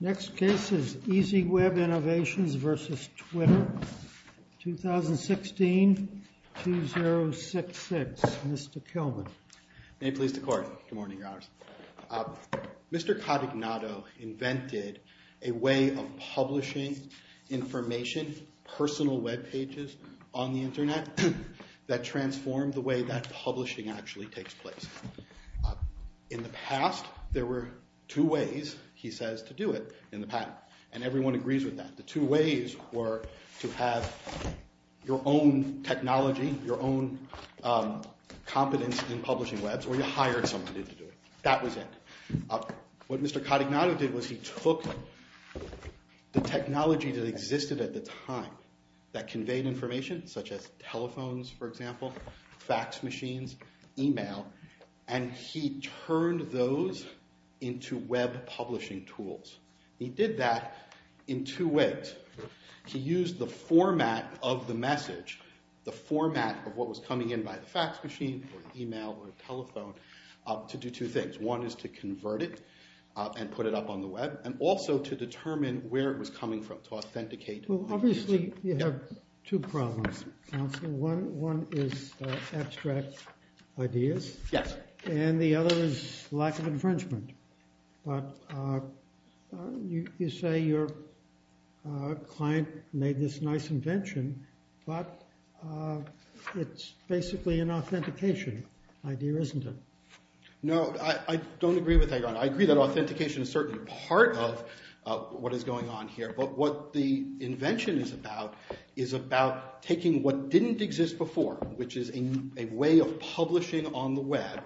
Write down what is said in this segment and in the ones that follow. Next case is EasyWeb Innovations v. Twitter, 2016-2066. Mr. Kilman. May it please the Court. Good morning, Your Honors. Mr. Cotignato invented a way of publishing information, personal web pages on the internet, that transformed the way that publishing actually takes place. In the past, there were two ways, he says, to do it in the patent. And everyone agrees with that. The two ways were to have your own technology, your own competence in publishing webs, or you hired someone to do it. That was it. What Mr. Cotignato did was he took the technology that existed at the time that conveyed information, such as telephones, for example, fax machines, email, and he turned those into web publishing tools. He did that in two ways. He used the format of the message, the format of what was coming in by the fax machine, or email, or telephone, to do two things. One is to convert it and put it up on the web, and also to determine where it was coming from, to authenticate the user. Well, obviously, you have two problems, counsel. One is abstract ideas. Yes. And the other is lack of infringement. But you say your client made this nice invention, but it's basically an authentication idea, isn't it? No, I don't agree with that. I agree that authentication is certainly part of what is going on here. But what the invention is about is about taking what didn't exist before, which is a way of publishing on the web,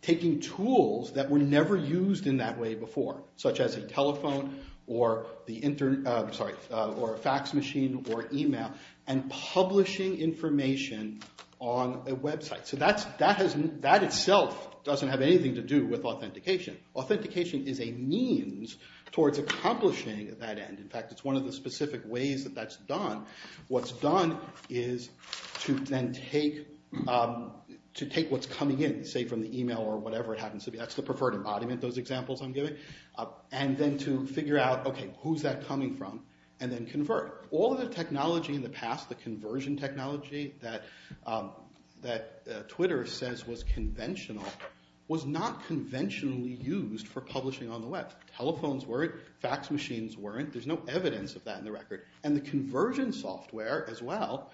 taking tools that were never used in that way before, such as a telephone, or a fax machine, or email, and publishing information on a website. So that itself doesn't have anything to do with authentication. Authentication is a means towards accomplishing that end. In fact, it's one of the specific ways that that's done. What's done is to then take what's coming in, say from the email or whatever it happens to be. That's the preferred embodiment, those examples I'm giving. And then to figure out, OK, who's that coming from, and then convert. All of the technology in the past, the conversion technology that Twitter says was conventional, was not conventionally used for publishing on the web. Telephones weren't. Fax machines weren't. There's no evidence of that in the record. And the conversion software, as well,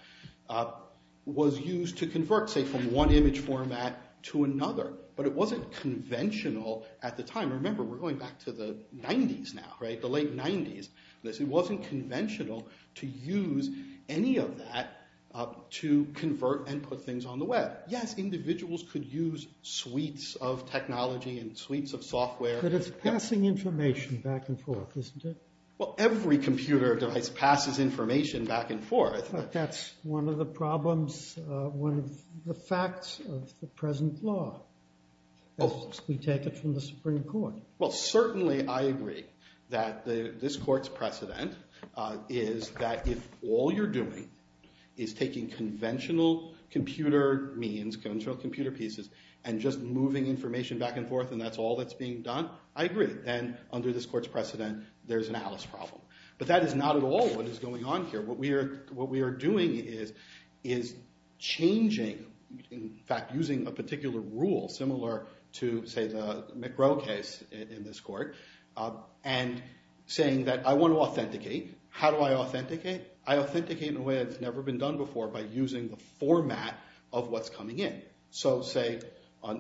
was used to convert, say, from one image format to another. But it wasn't conventional at the time. Remember, we're going back to the 90s now, the late 90s. It wasn't conventional to use any of that to convert and put things on the web. Yes, individuals could use suites of technology and suites of software. But it's passing information back and forth, isn't it? Well, every computer device passes information back and forth. But that's one of the problems, one of the facts of the present law, as we take it from the Supreme Court. Well, certainly, I agree that this court's precedent is that if all you're doing is taking conventional computer means, conventional computer pieces, and just moving information back and forth, and that's all that's being done, I agree. Then under this court's precedent, there's an Alice problem. But that is not at all what is going on here. What we are doing is changing, in fact, using a particular rule similar to, say, the McGrow case in this court, and saying that I want to authenticate. How do I authenticate? I authenticate in a way that's never been done before, by using the format of what's coming in. So say,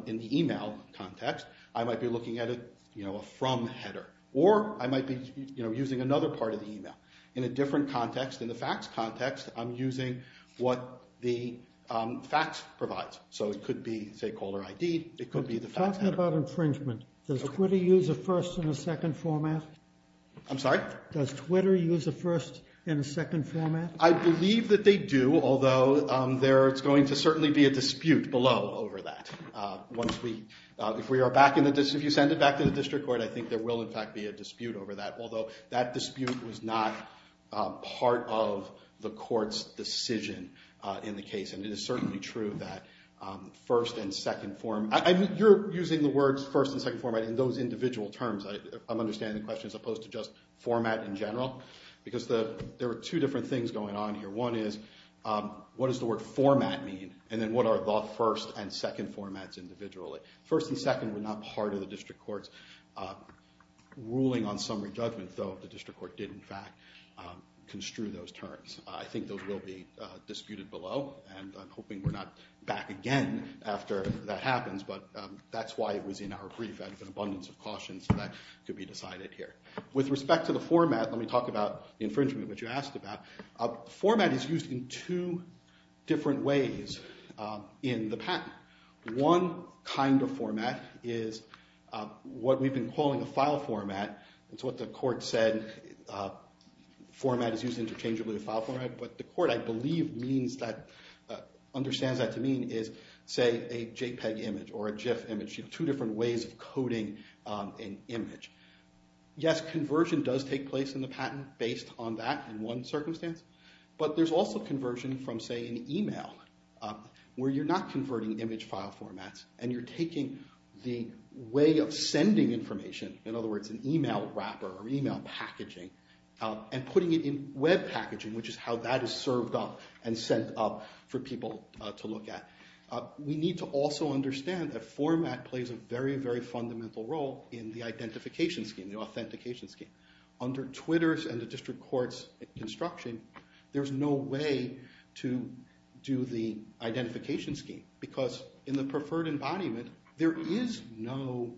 in the email context, I might be looking at a From header. Or I might be using another part of the email. In a different context, in the facts context, I'm using what the facts provides. So it could be, say, caller ID. It could be the facts header. Talking about infringement, does Twitter use a first and a second format? I'm sorry? Does Twitter use a first and a second format? I believe that they do, although there's going to certainly be a dispute below over that. If you send it back to the district court, I think there will, in fact, be a dispute over that. Although, that dispute was not part of the court's decision in the case. And it is certainly true that first and second form. You're using the words first and second format in those individual terms. I'm understanding the question, as opposed to just format in general. Because there are two different things going on here. One is, what does the word format mean? And then, what are the first and second formats individually? First and second were not part of the district court's ruling on summary judgment, though the district court did, in fact, construe those terms. I think those will be disputed below. And I'm hoping we're not back again after that happens. But that's why it was in our brief. I had an abundance of caution, so that could be decided here. With respect to the format, let me talk about infringement, which you asked about. Format is used in two different ways in the patent. One kind of format is what we've been calling a file format. It's what the court said. Format is used interchangeably with file format. But the court, I believe, understands that to mean is, say, a JPEG image or a GIF image. Two different ways of coding an image. Yes, conversion does take place in the patent based on that in one circumstance. But there's also conversion from, say, an email, where you're not converting image file formats, and you're taking the way of sending information, in other words, an email wrapper or email packaging, and putting it in web packaging, which is how that is served up and sent up for people to look at. We need to also understand that format plays a very, very fundamental role in the identification scheme, the authentication scheme. Under Twitter's and the district court's construction, there's no way to do the identification scheme. Because in the preferred embodiment, there is no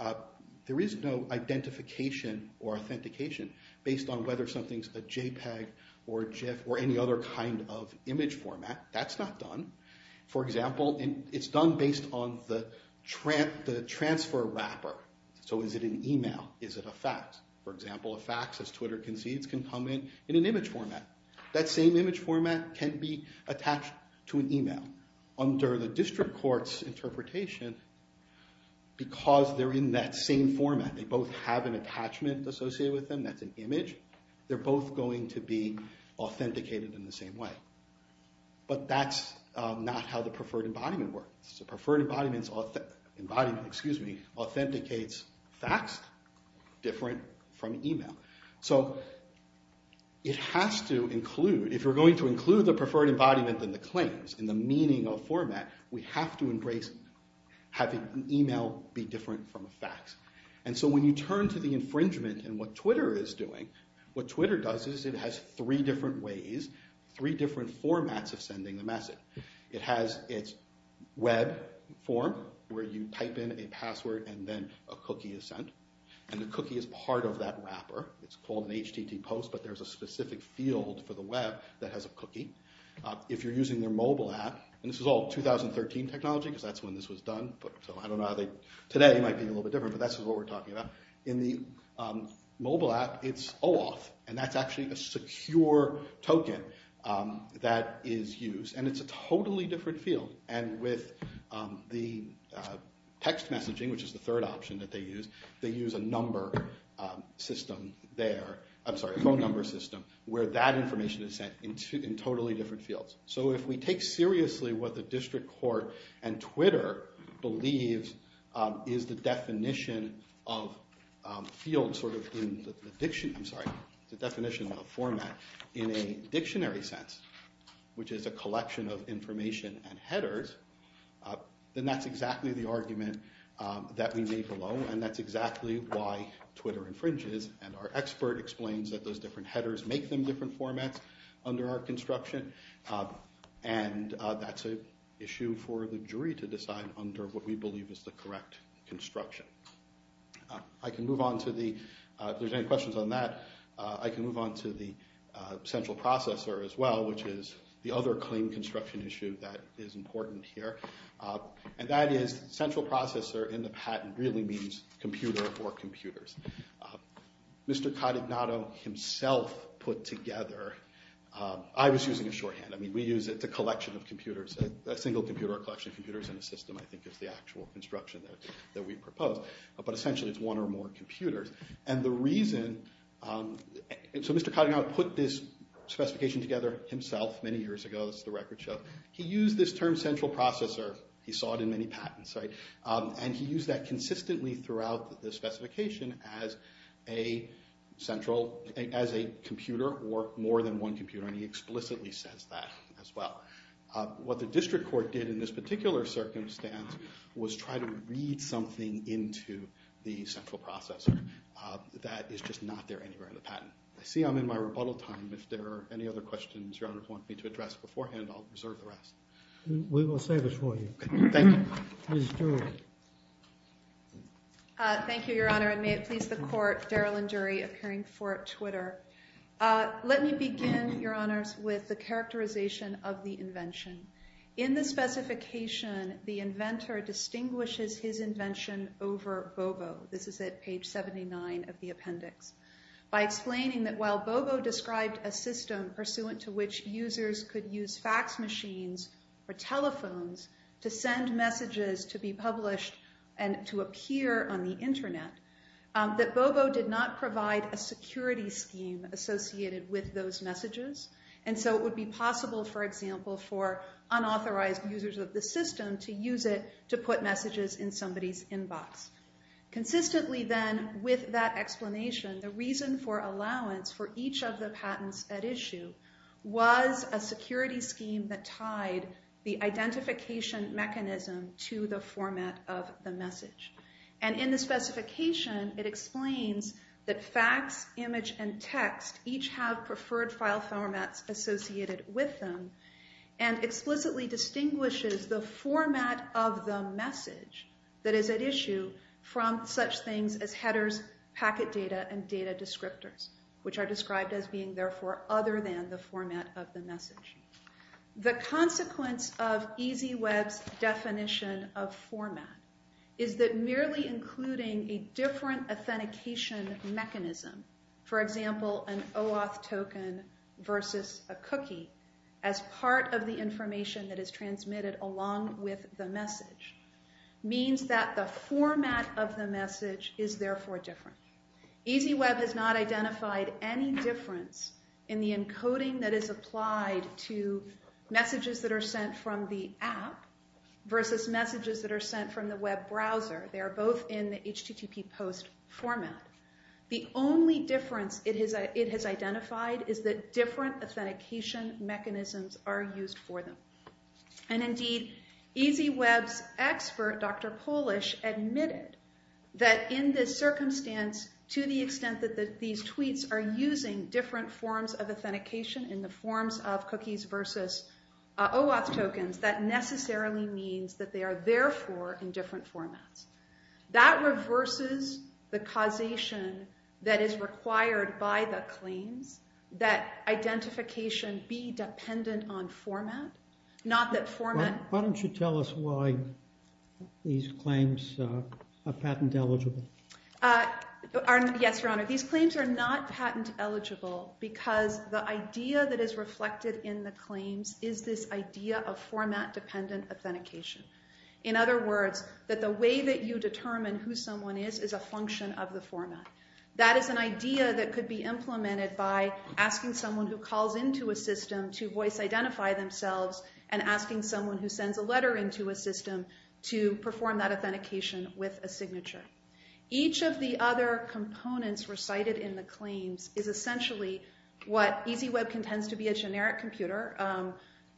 identification or authentication based on whether something's a JPEG or a GIF or any other kind of image format. That's not done. For example, it's done based on the transfer wrapper. So is it an email? Is it a fax? For example, a fax, as Twitter concedes, can come in in an image format. That same image format can be attached to an email. Under the district court's interpretation, because they're in that same format, they both have an attachment associated with them that's an image, they're both going to be authenticated in the same way. But that's not how the preferred embodiment works. The preferred embodiment authenticates fax different from email. So it has to include, if you're going to include the preferred embodiment in the claims, in the meaning of format, we have to embrace having email be different from a fax. And so when you turn to the infringement and what Twitter is doing, what Twitter does is it has three different ways, three different formats of sending the message. It has its web form, where you type in a password and then a cookie is sent. And the cookie is part of that wrapper. It's called an HTT post, but there's a specific field for the web that has a cookie. If you're using their mobile app, and this is all 2013 technology, because that's when this was done, so I don't know how they, today it might be a little bit different, but that's what we're talking about. In the mobile app, it's OAuth, and that's actually a secure token that is used. And it's a totally different field. And with the text messaging, which is the third option that they use, they use a number system there, I'm sorry, a phone number system, where that information is sent in totally different fields. So if we take seriously what the district court and Twitter believes is the definition of field sort of in the dictionary, I'm sorry, the definition of a format in a dictionary sense, which is a collection of information and headers, then that's exactly the argument that we need below, and that's exactly why Twitter infringes, and our expert explains that those different headers make them different formats under our construction, and that's an issue for the jury to decide under what we believe is the correct construction. I can move on to the, if there's any questions on that, I can move on to the central processor as well, which is the other claim construction issue that is important here. And that is central processor in the patent really means computer or computers. Mr. Cottenato himself put together, I was using a shorthand, I mean, we use it, it's a collection of computers, a single computer, a collection of computers in a system, I think is the actual construction that we propose, but essentially it's one or more computers. And the reason, so Mr. Cottenato put this specification together himself many years ago, this is the record show, he used this term central processor, he saw it in many patents, right? And he used that consistently throughout the specification as a central, as a computer or more than one computer, and he explicitly says that as well. What the district court did in this particular circumstance was try to read something into the central processor that is just not there anywhere in the patent. I see I'm in my rebuttal time, if there are any other questions your honor want me to address beforehand, I'll reserve the rest. We will save it for you. Thank you. Ms. Dury. Thank you, your honor, and may it please the court, Daryl and Dury, appearing before Twitter. Let me begin, your honors, with the characterization of the invention. In the specification, the inventor distinguishes his invention over Bobo. This is at page 79 of the appendix. By explaining that while Bobo described a system pursuant to which users could use fax machines or telephones to send messages to be published and to appear on the internet, that Bobo did not provide a security scheme associated with those messages, and so it would be possible, for example, for unauthorized users of the system to use it to put messages in somebody's inbox. Consistently then, with that explanation, the reason for allowance for each of the patents at issue was a security scheme that tied the identification mechanism to the format of the message. And in the specification, it explains that fax, image, and text each have preferred file formats associated with them, and explicitly distinguishes the format of the message that is at issue from such things as headers, packet data, and data descriptors, which are described as being, therefore, other than the format of the message. The consequence of EasyWeb's definition of format is that merely including a different authentication mechanism, for example, an OAuth token versus a cookie, as part of the information that is transmitted along with the message, means that the format of the message is, therefore, different. EasyWeb has not identified any difference in the encoding that is applied to messages that are sent from the app versus messages that are sent from the web browser. They are both in the HTTP post format. The only difference it has identified is that different authentication mechanisms are used for them. And indeed, EasyWeb's expert, Dr. Polish, admitted that in this circumstance, to the extent that these tweets are using different forms of authentication in the forms of cookies versus OAuth tokens, that necessarily means that they are, therefore, in different formats. That reverses the causation that is required by the claims that identification be dependent on format. Not that format... Why don't you tell us why these claims are patent eligible? Yes, Your Honor. These claims are not patent eligible because the idea that is reflected in the claims is this idea of format-dependent authentication. In other words, that the way that you determine who someone is is a function of the format. That is an idea that could be implemented by asking someone who calls into a system to voice identify themselves and asking someone who sends a letter into a system to perform that authentication with a signature. Each of the other components recited in the claims is essentially what EasyWeb contends to be a generic computer,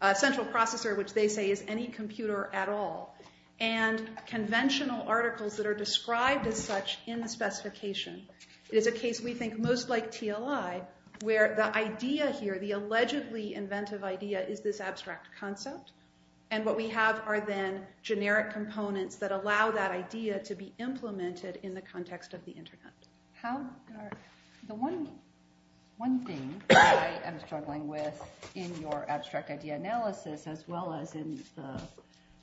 a central processor, which they say is any computer at all, and conventional articles that are described as such in the specification. It is a case we think most like TLI, where the idea here, the allegedly inventive idea, is this abstract concept. And what we have are then generic components that allow that idea to be implemented in the context of the internet. The one thing I am struggling with in your abstract idea analysis, as well as in the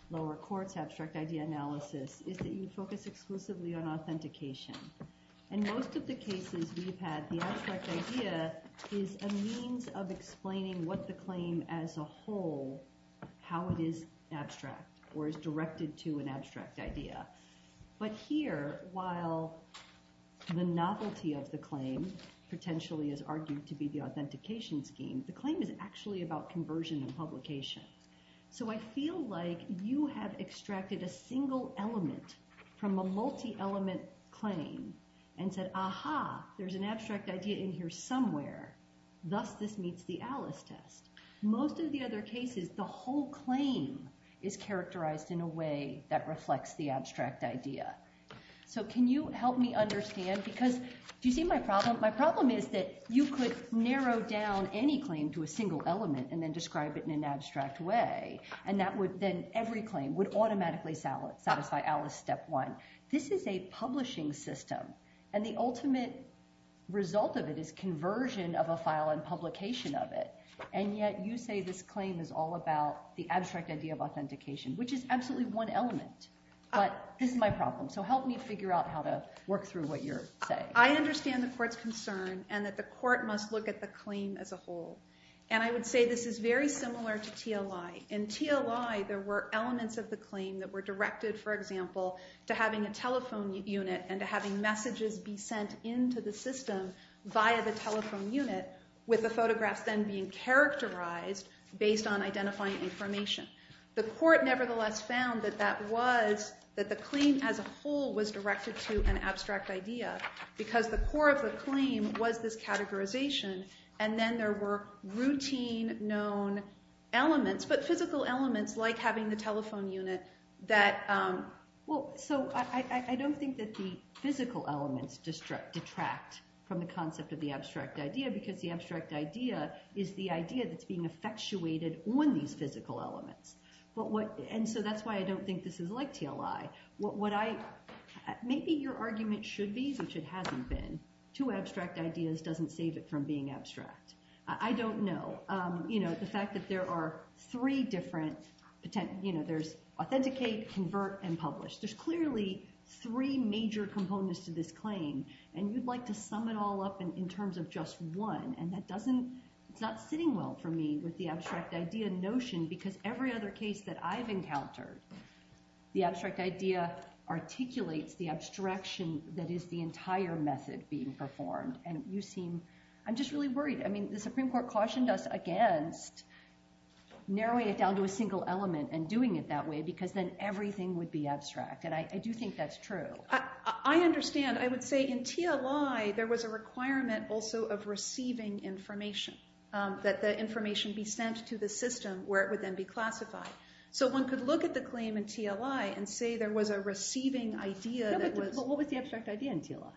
lower court's abstract idea analysis, is that you focus exclusively on authentication. In most of the cases we've had, the abstract idea is a means of explaining what the claim as a whole, how it is abstract, or is directed to an abstract idea. But here, while the novelty of the claim potentially is argued to be the authentication scheme, the claim is actually about conversion and publication. So I feel like you have extracted a single element from a multi-element claim, and said, aha, there's an abstract idea in here somewhere. Thus, this meets the Alice test. Most of the other cases, the whole claim is characterized in a way that reflects the abstract idea. So can you help me understand? Because, do you see my problem? My problem is that you could narrow down any claim to a single element, and then describe it in an abstract way, and that would then, every claim would automatically satisfy Alice step one. This is a publishing system, and the ultimate result of it is conversion of a file and publication of it. And yet, you say this claim is all about the abstract idea of authentication, which is absolutely one element. But this is my problem, so help me figure out how to work through what you're saying. I understand the court's concern, and that the court must look at the claim as a whole. And I would say this is very similar to TLI. In TLI, there were elements of the claim that were directed, for example, to having a telephone unit, and to having messages be sent into the system via the telephone unit, with the photographs then being characterized based on identifying information. The court nevertheless found that that was, that the claim as a whole was directed to an abstract idea, because the core of the claim was this categorization, and then there were routine known elements, but physical elements, like having the telephone unit, that, well, so I don't think that the physical elements detract from the concept of the abstract idea, because the abstract idea is the idea that's being effectuated on these physical elements. But what, and so that's why I don't think this is like TLI. What I, maybe your argument should be, which it hasn't been, two abstract ideas doesn't save it from being abstract. I don't know. You know, the fact that there are three different, you know, there's authenticate, convert, and publish. There's clearly three major components to this claim, and you'd like to sum it all up in terms of just one, and that doesn't, it's not sitting well for me with the abstract idea notion, because every other case that I've encountered, the abstract idea articulates the abstraction that is the entire method being performed, and you seem, I'm just really worried. I mean, the Supreme Court cautioned us, against narrowing it down to a single element and doing it that way, because then everything would be abstract, and I do think that's true. I understand. I would say in TLI, there was a requirement also of receiving information, that the information be sent to the system where it would then be classified. So one could look at the claim in TLI and say there was a receiving idea that was. What was the abstract idea in TLI?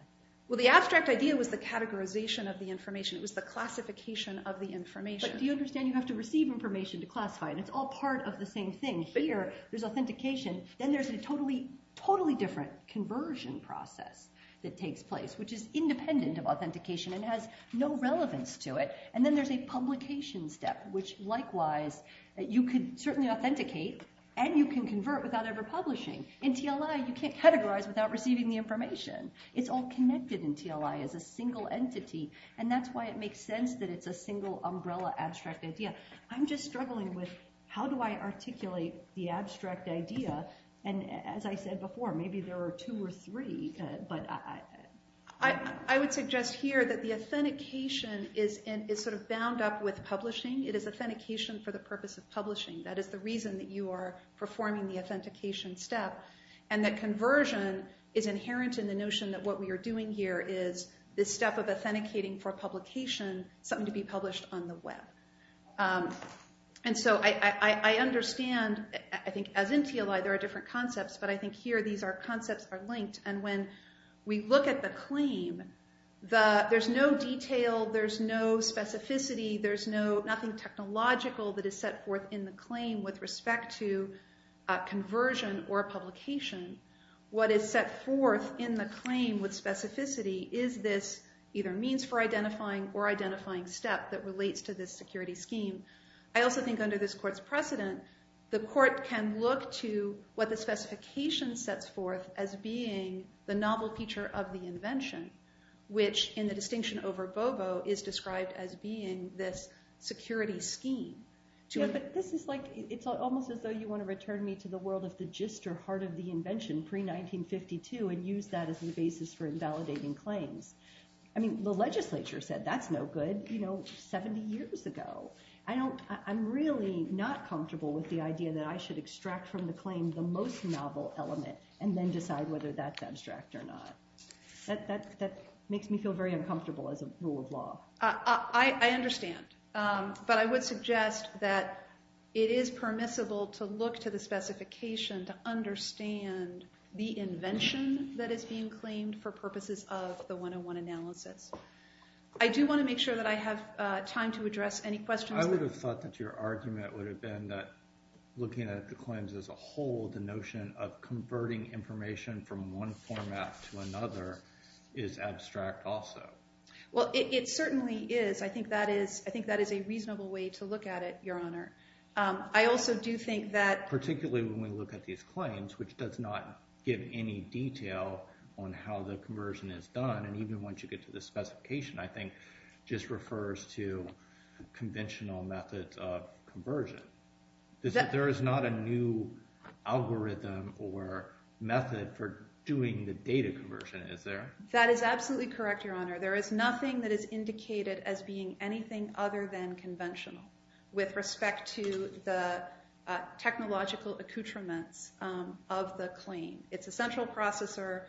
Well, the abstract idea was the categorization of the information. It was the classification of the information. But do you understand you have to receive information to classify it, and it's all part of the same thing. Here, there's authentication. Then there's a totally, totally different conversion process that takes place, which is independent of authentication and has no relevance to it, and then there's a publication step, which likewise, you could certainly authenticate, and you can convert without ever publishing. In TLI, you can't categorize without receiving the information. It's all connected in TLI as a single entity, and that's why it makes sense that it's a single umbrella abstract idea. I'm just struggling with how do I articulate the abstract idea, and as I said before, maybe there are two or three, but I... I would suggest here that the authentication is sort of bound up with publishing. It is authentication for the purpose of publishing. That is the reason that you are performing the authentication step, and that conversion is inherent in the notion that what we are doing here is this step of authenticating for publication, something to be published on the web. And so I understand, I think as in TLI, there are different concepts, but I think here, these are concepts are linked, and when we look at the claim, there's no detail, there's no specificity, there's nothing technological that is set forth in the claim with respect to conversion or publication. What is set forth in the claim with specificity is this either means for identifying or identifying step that relates to this security scheme. I also think under this court's precedent, the court can look to what the specification sets forth as being the novel feature of the invention, which in the distinction over Bobo is described as being this security scheme. To have it, this is like, it's almost as though you wanna return me to the world of the gist or heart of the invention pre-1952 and use that as the basis for invalidating claims. I mean, the legislature said that's no good 70 years ago. I don't, I'm really not comfortable with the idea that I should extract from the claim the most novel element and then decide whether that's abstract or not. That makes me feel very uncomfortable as a rule of law. I understand, but I would suggest that it is permissible to look to the specification to understand the invention that is being claimed for purposes of the 101 analysis. I do wanna make sure that I have time to address any questions. I would have thought that your argument would have been that looking at the claims as a whole, the notion of converting information from one format to another is abstract also. Well, it certainly is. I think that is, I think that is a reasonable way to look at it, Your Honor. I also do think that. Particularly when we look at these claims, which does not give any detail on how the conversion is done. And even once you get to the specification, I think just refers to conventional methods of conversion. There is not a new algorithm or method for doing the data conversion, is there? That is absolutely correct, Your Honor. There is nothing that is indicated as being anything other than conventional with respect to the technological accoutrements of the claim. It's a central processor,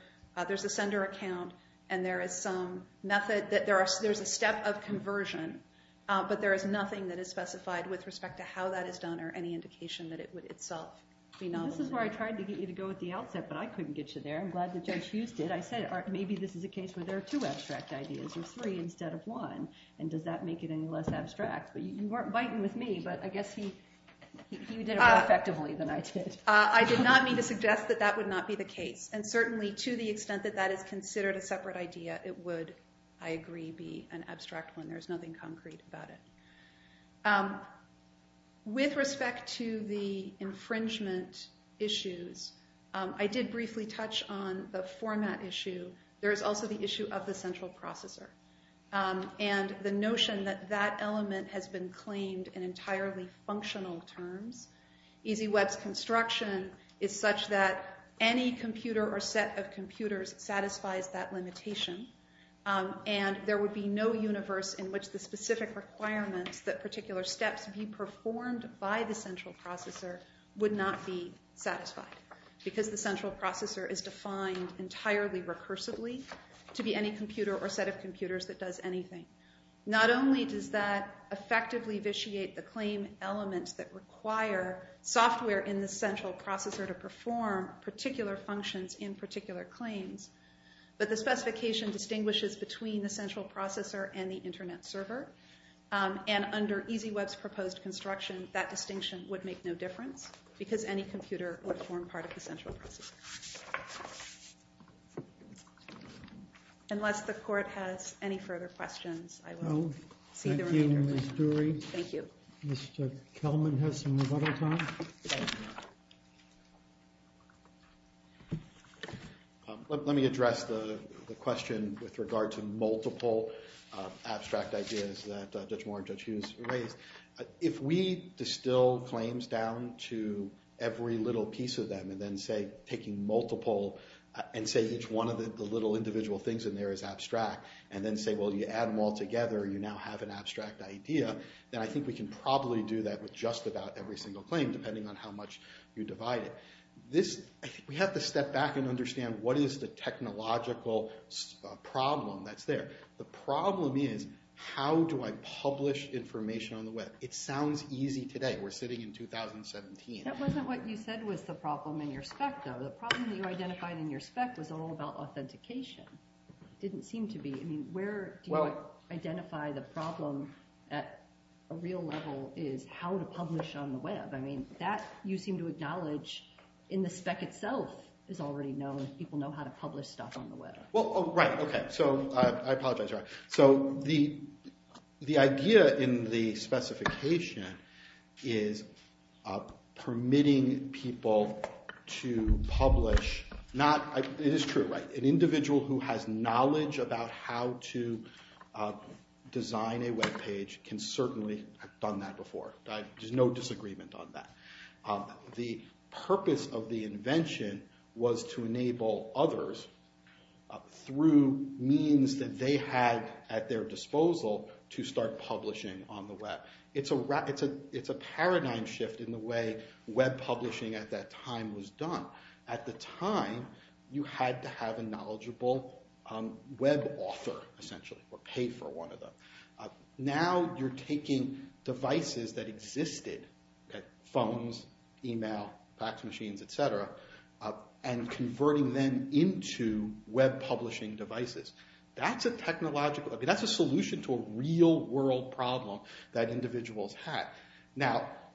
there's a sender account, and there is some method, there's a step of conversion. But there is nothing that is specified with respect to how that is done or any indication that it would itself be novel. This is where I tried to get you to go at the outset, but I couldn't get you there. I'm glad that Judge Huston, I said, maybe this is a case where there are two abstract ideas or three instead of one. And does that make it any less abstract? You weren't biting with me, but I guess he did it more effectively than I did. I did not mean to suggest that that would not be the case. And certainly to the extent that that is considered a separate idea, it would, I agree, be an abstract one. There's nothing concrete about it. With respect to the infringement issues, I did briefly touch on the format issue. There is also the issue of the central processor. And the notion that that element has been claimed in entirely functional terms. EasyWeb's construction is such that any computer or set of computers satisfies that limitation. And there would be no universe in which the specific requirements that particular steps be performed by the central processor would not be satisfied. Because the central processor is defined entirely recursively to be any computer or set of computers that does anything. Not only does that effectively vitiate the claim elements that require software in the central processor to perform particular functions in particular claims, but the specification distinguishes between the central processor and the internet server. And under EasyWeb's proposed construction, that distinction would make no difference because any computer would form part of the central processor. Unless the court has any further questions, I will see the remainder of the meeting. Thank you, Ms. Dury. Thank you. Mr. Kelman has some rebuttal time. Let me address the question with regard to multiple abstract ideas that Judge Moore and Judge Hughes raised. If we distill claims down to every little piece of them and then, say, taking multiple and say each one of the little individual things in there is abstract, and then say, well, you add them all together, you now have an abstract idea, then I think we can probably do that with just about every single claim, depending on how much you divide it. We have to step back and understand what is the technological problem that's there. The problem is, how do I publish information on the web? It sounds easy today. We're sitting in 2017. That wasn't what you said was the problem in your spec, though. The problem that you identified in your spec was all about authentication. It didn't seem to be. Where do you identify the problem at a real level is how to publish on the web? I mean, that you seem to acknowledge in the spec itself is already known if people know how to publish stuff on the web. Well, right, OK. So I apologize. So the idea in the specification is permitting people to publish. It is true, right? An individual who has knowledge about how to design a web page can certainly have done that before. There's no disagreement on that. The purpose of the invention was to enable others through means that they had at their disposal to start publishing on the web. It's a paradigm shift in the way web publishing at that time was done. At the time, you had to have a knowledgeable web author, essentially, or pay for one of them. Now,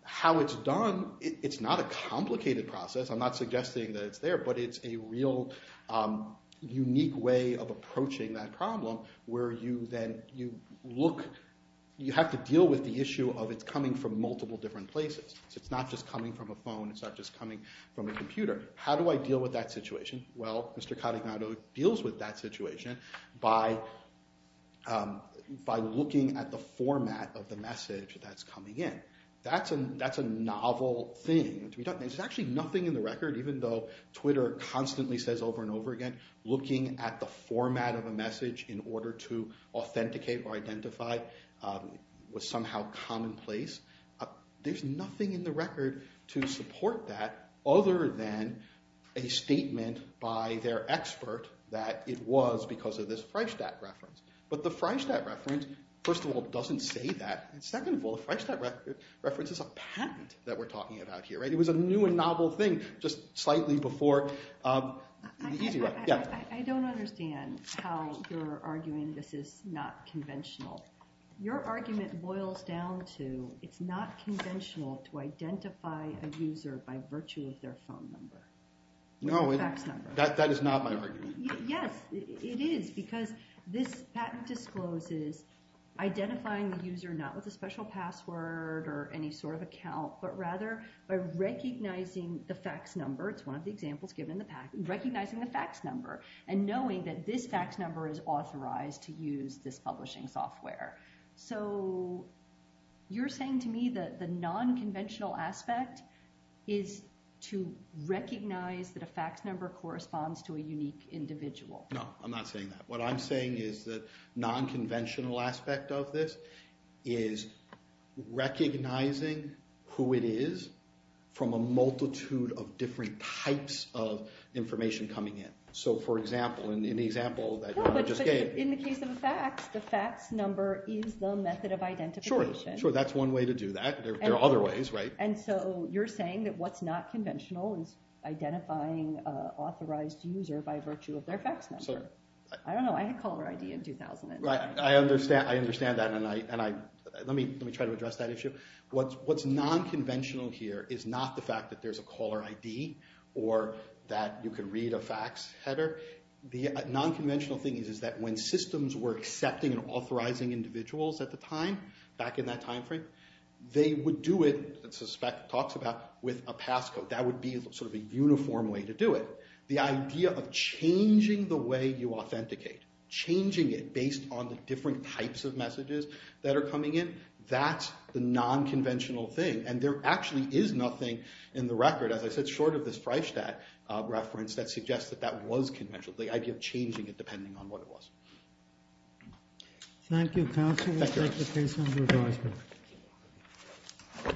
how it's done, it's not a complicated process. I'm not suggesting that it's there, but it's a real unique way of approaching that problem, where you have to deal with the issue of it's coming from multiple different places. So it's not just coming from a phone. It's not just coming from a computer. How do I deal with that situation? Well, Mr. Carignano deals with that situation by looking at the format of the message that's coming in. That's a novel thing to be done. There's actually nothing in the record, even though Twitter constantly says over and over again, looking at the format of a message in order to authenticate or identify was somehow commonplace. There's nothing in the record to support that other than a statement by their expert that it was because of this Freistadt reference. But the Freistadt reference, first of all, doesn't say that. And second of all, the Freistadt reference is a patent that we're talking about here. It was a new and novel thing just slightly before the easy one. I don't understand how you're arguing this is not conventional. Your argument boils down to it's not conventional to identify a user by virtue of their phone number or fax number. That is not my argument. Yes, it is. Because this patent discloses identifying the user not with a special password or any sort of account, but rather by recognizing the fax number. It's one of the examples given in the patent. Recognizing the fax number and knowing that this fax number is authorized to use this publishing software. So you're saying to me that the non-conventional aspect is to recognize that a fax number corresponds to a unique individual. No, I'm not saying that. What I'm saying is that non-conventional aspect of this is recognizing who it is from a multitude of different types of information coming in. So for example, in the example that you just gave. In the case of a fax, the fax number is the method of identification. Sure, that's one way to do that. There are other ways. And so you're saying that what's not conventional is identifying an authorized user by virtue of their fax number. I don't know, I had a caller ID in 2009. I understand that, and let me try to address that issue. What's non-conventional here is not the fact that there's a caller ID or that you can read a fax header. The non-conventional thing is that when systems were accepting and authorizing individuals at the time, back in that time frame, they would do it, suspect talks about, with a passcode. That would be sort of a uniform way to do it. The idea of changing the way you authenticate, changing it based on the different types of messages that are coming in, that's the non-conventional thing. And there actually is nothing in the record, as I said, short of this Freistadt reference, that suggests that that was conventional, the idea of changing it depending on what it was. Thank you, counsel. We'll take the case under advisement. All rise. The Honorable Court is adjourned until this afternoon at 2 o'clock. Okay.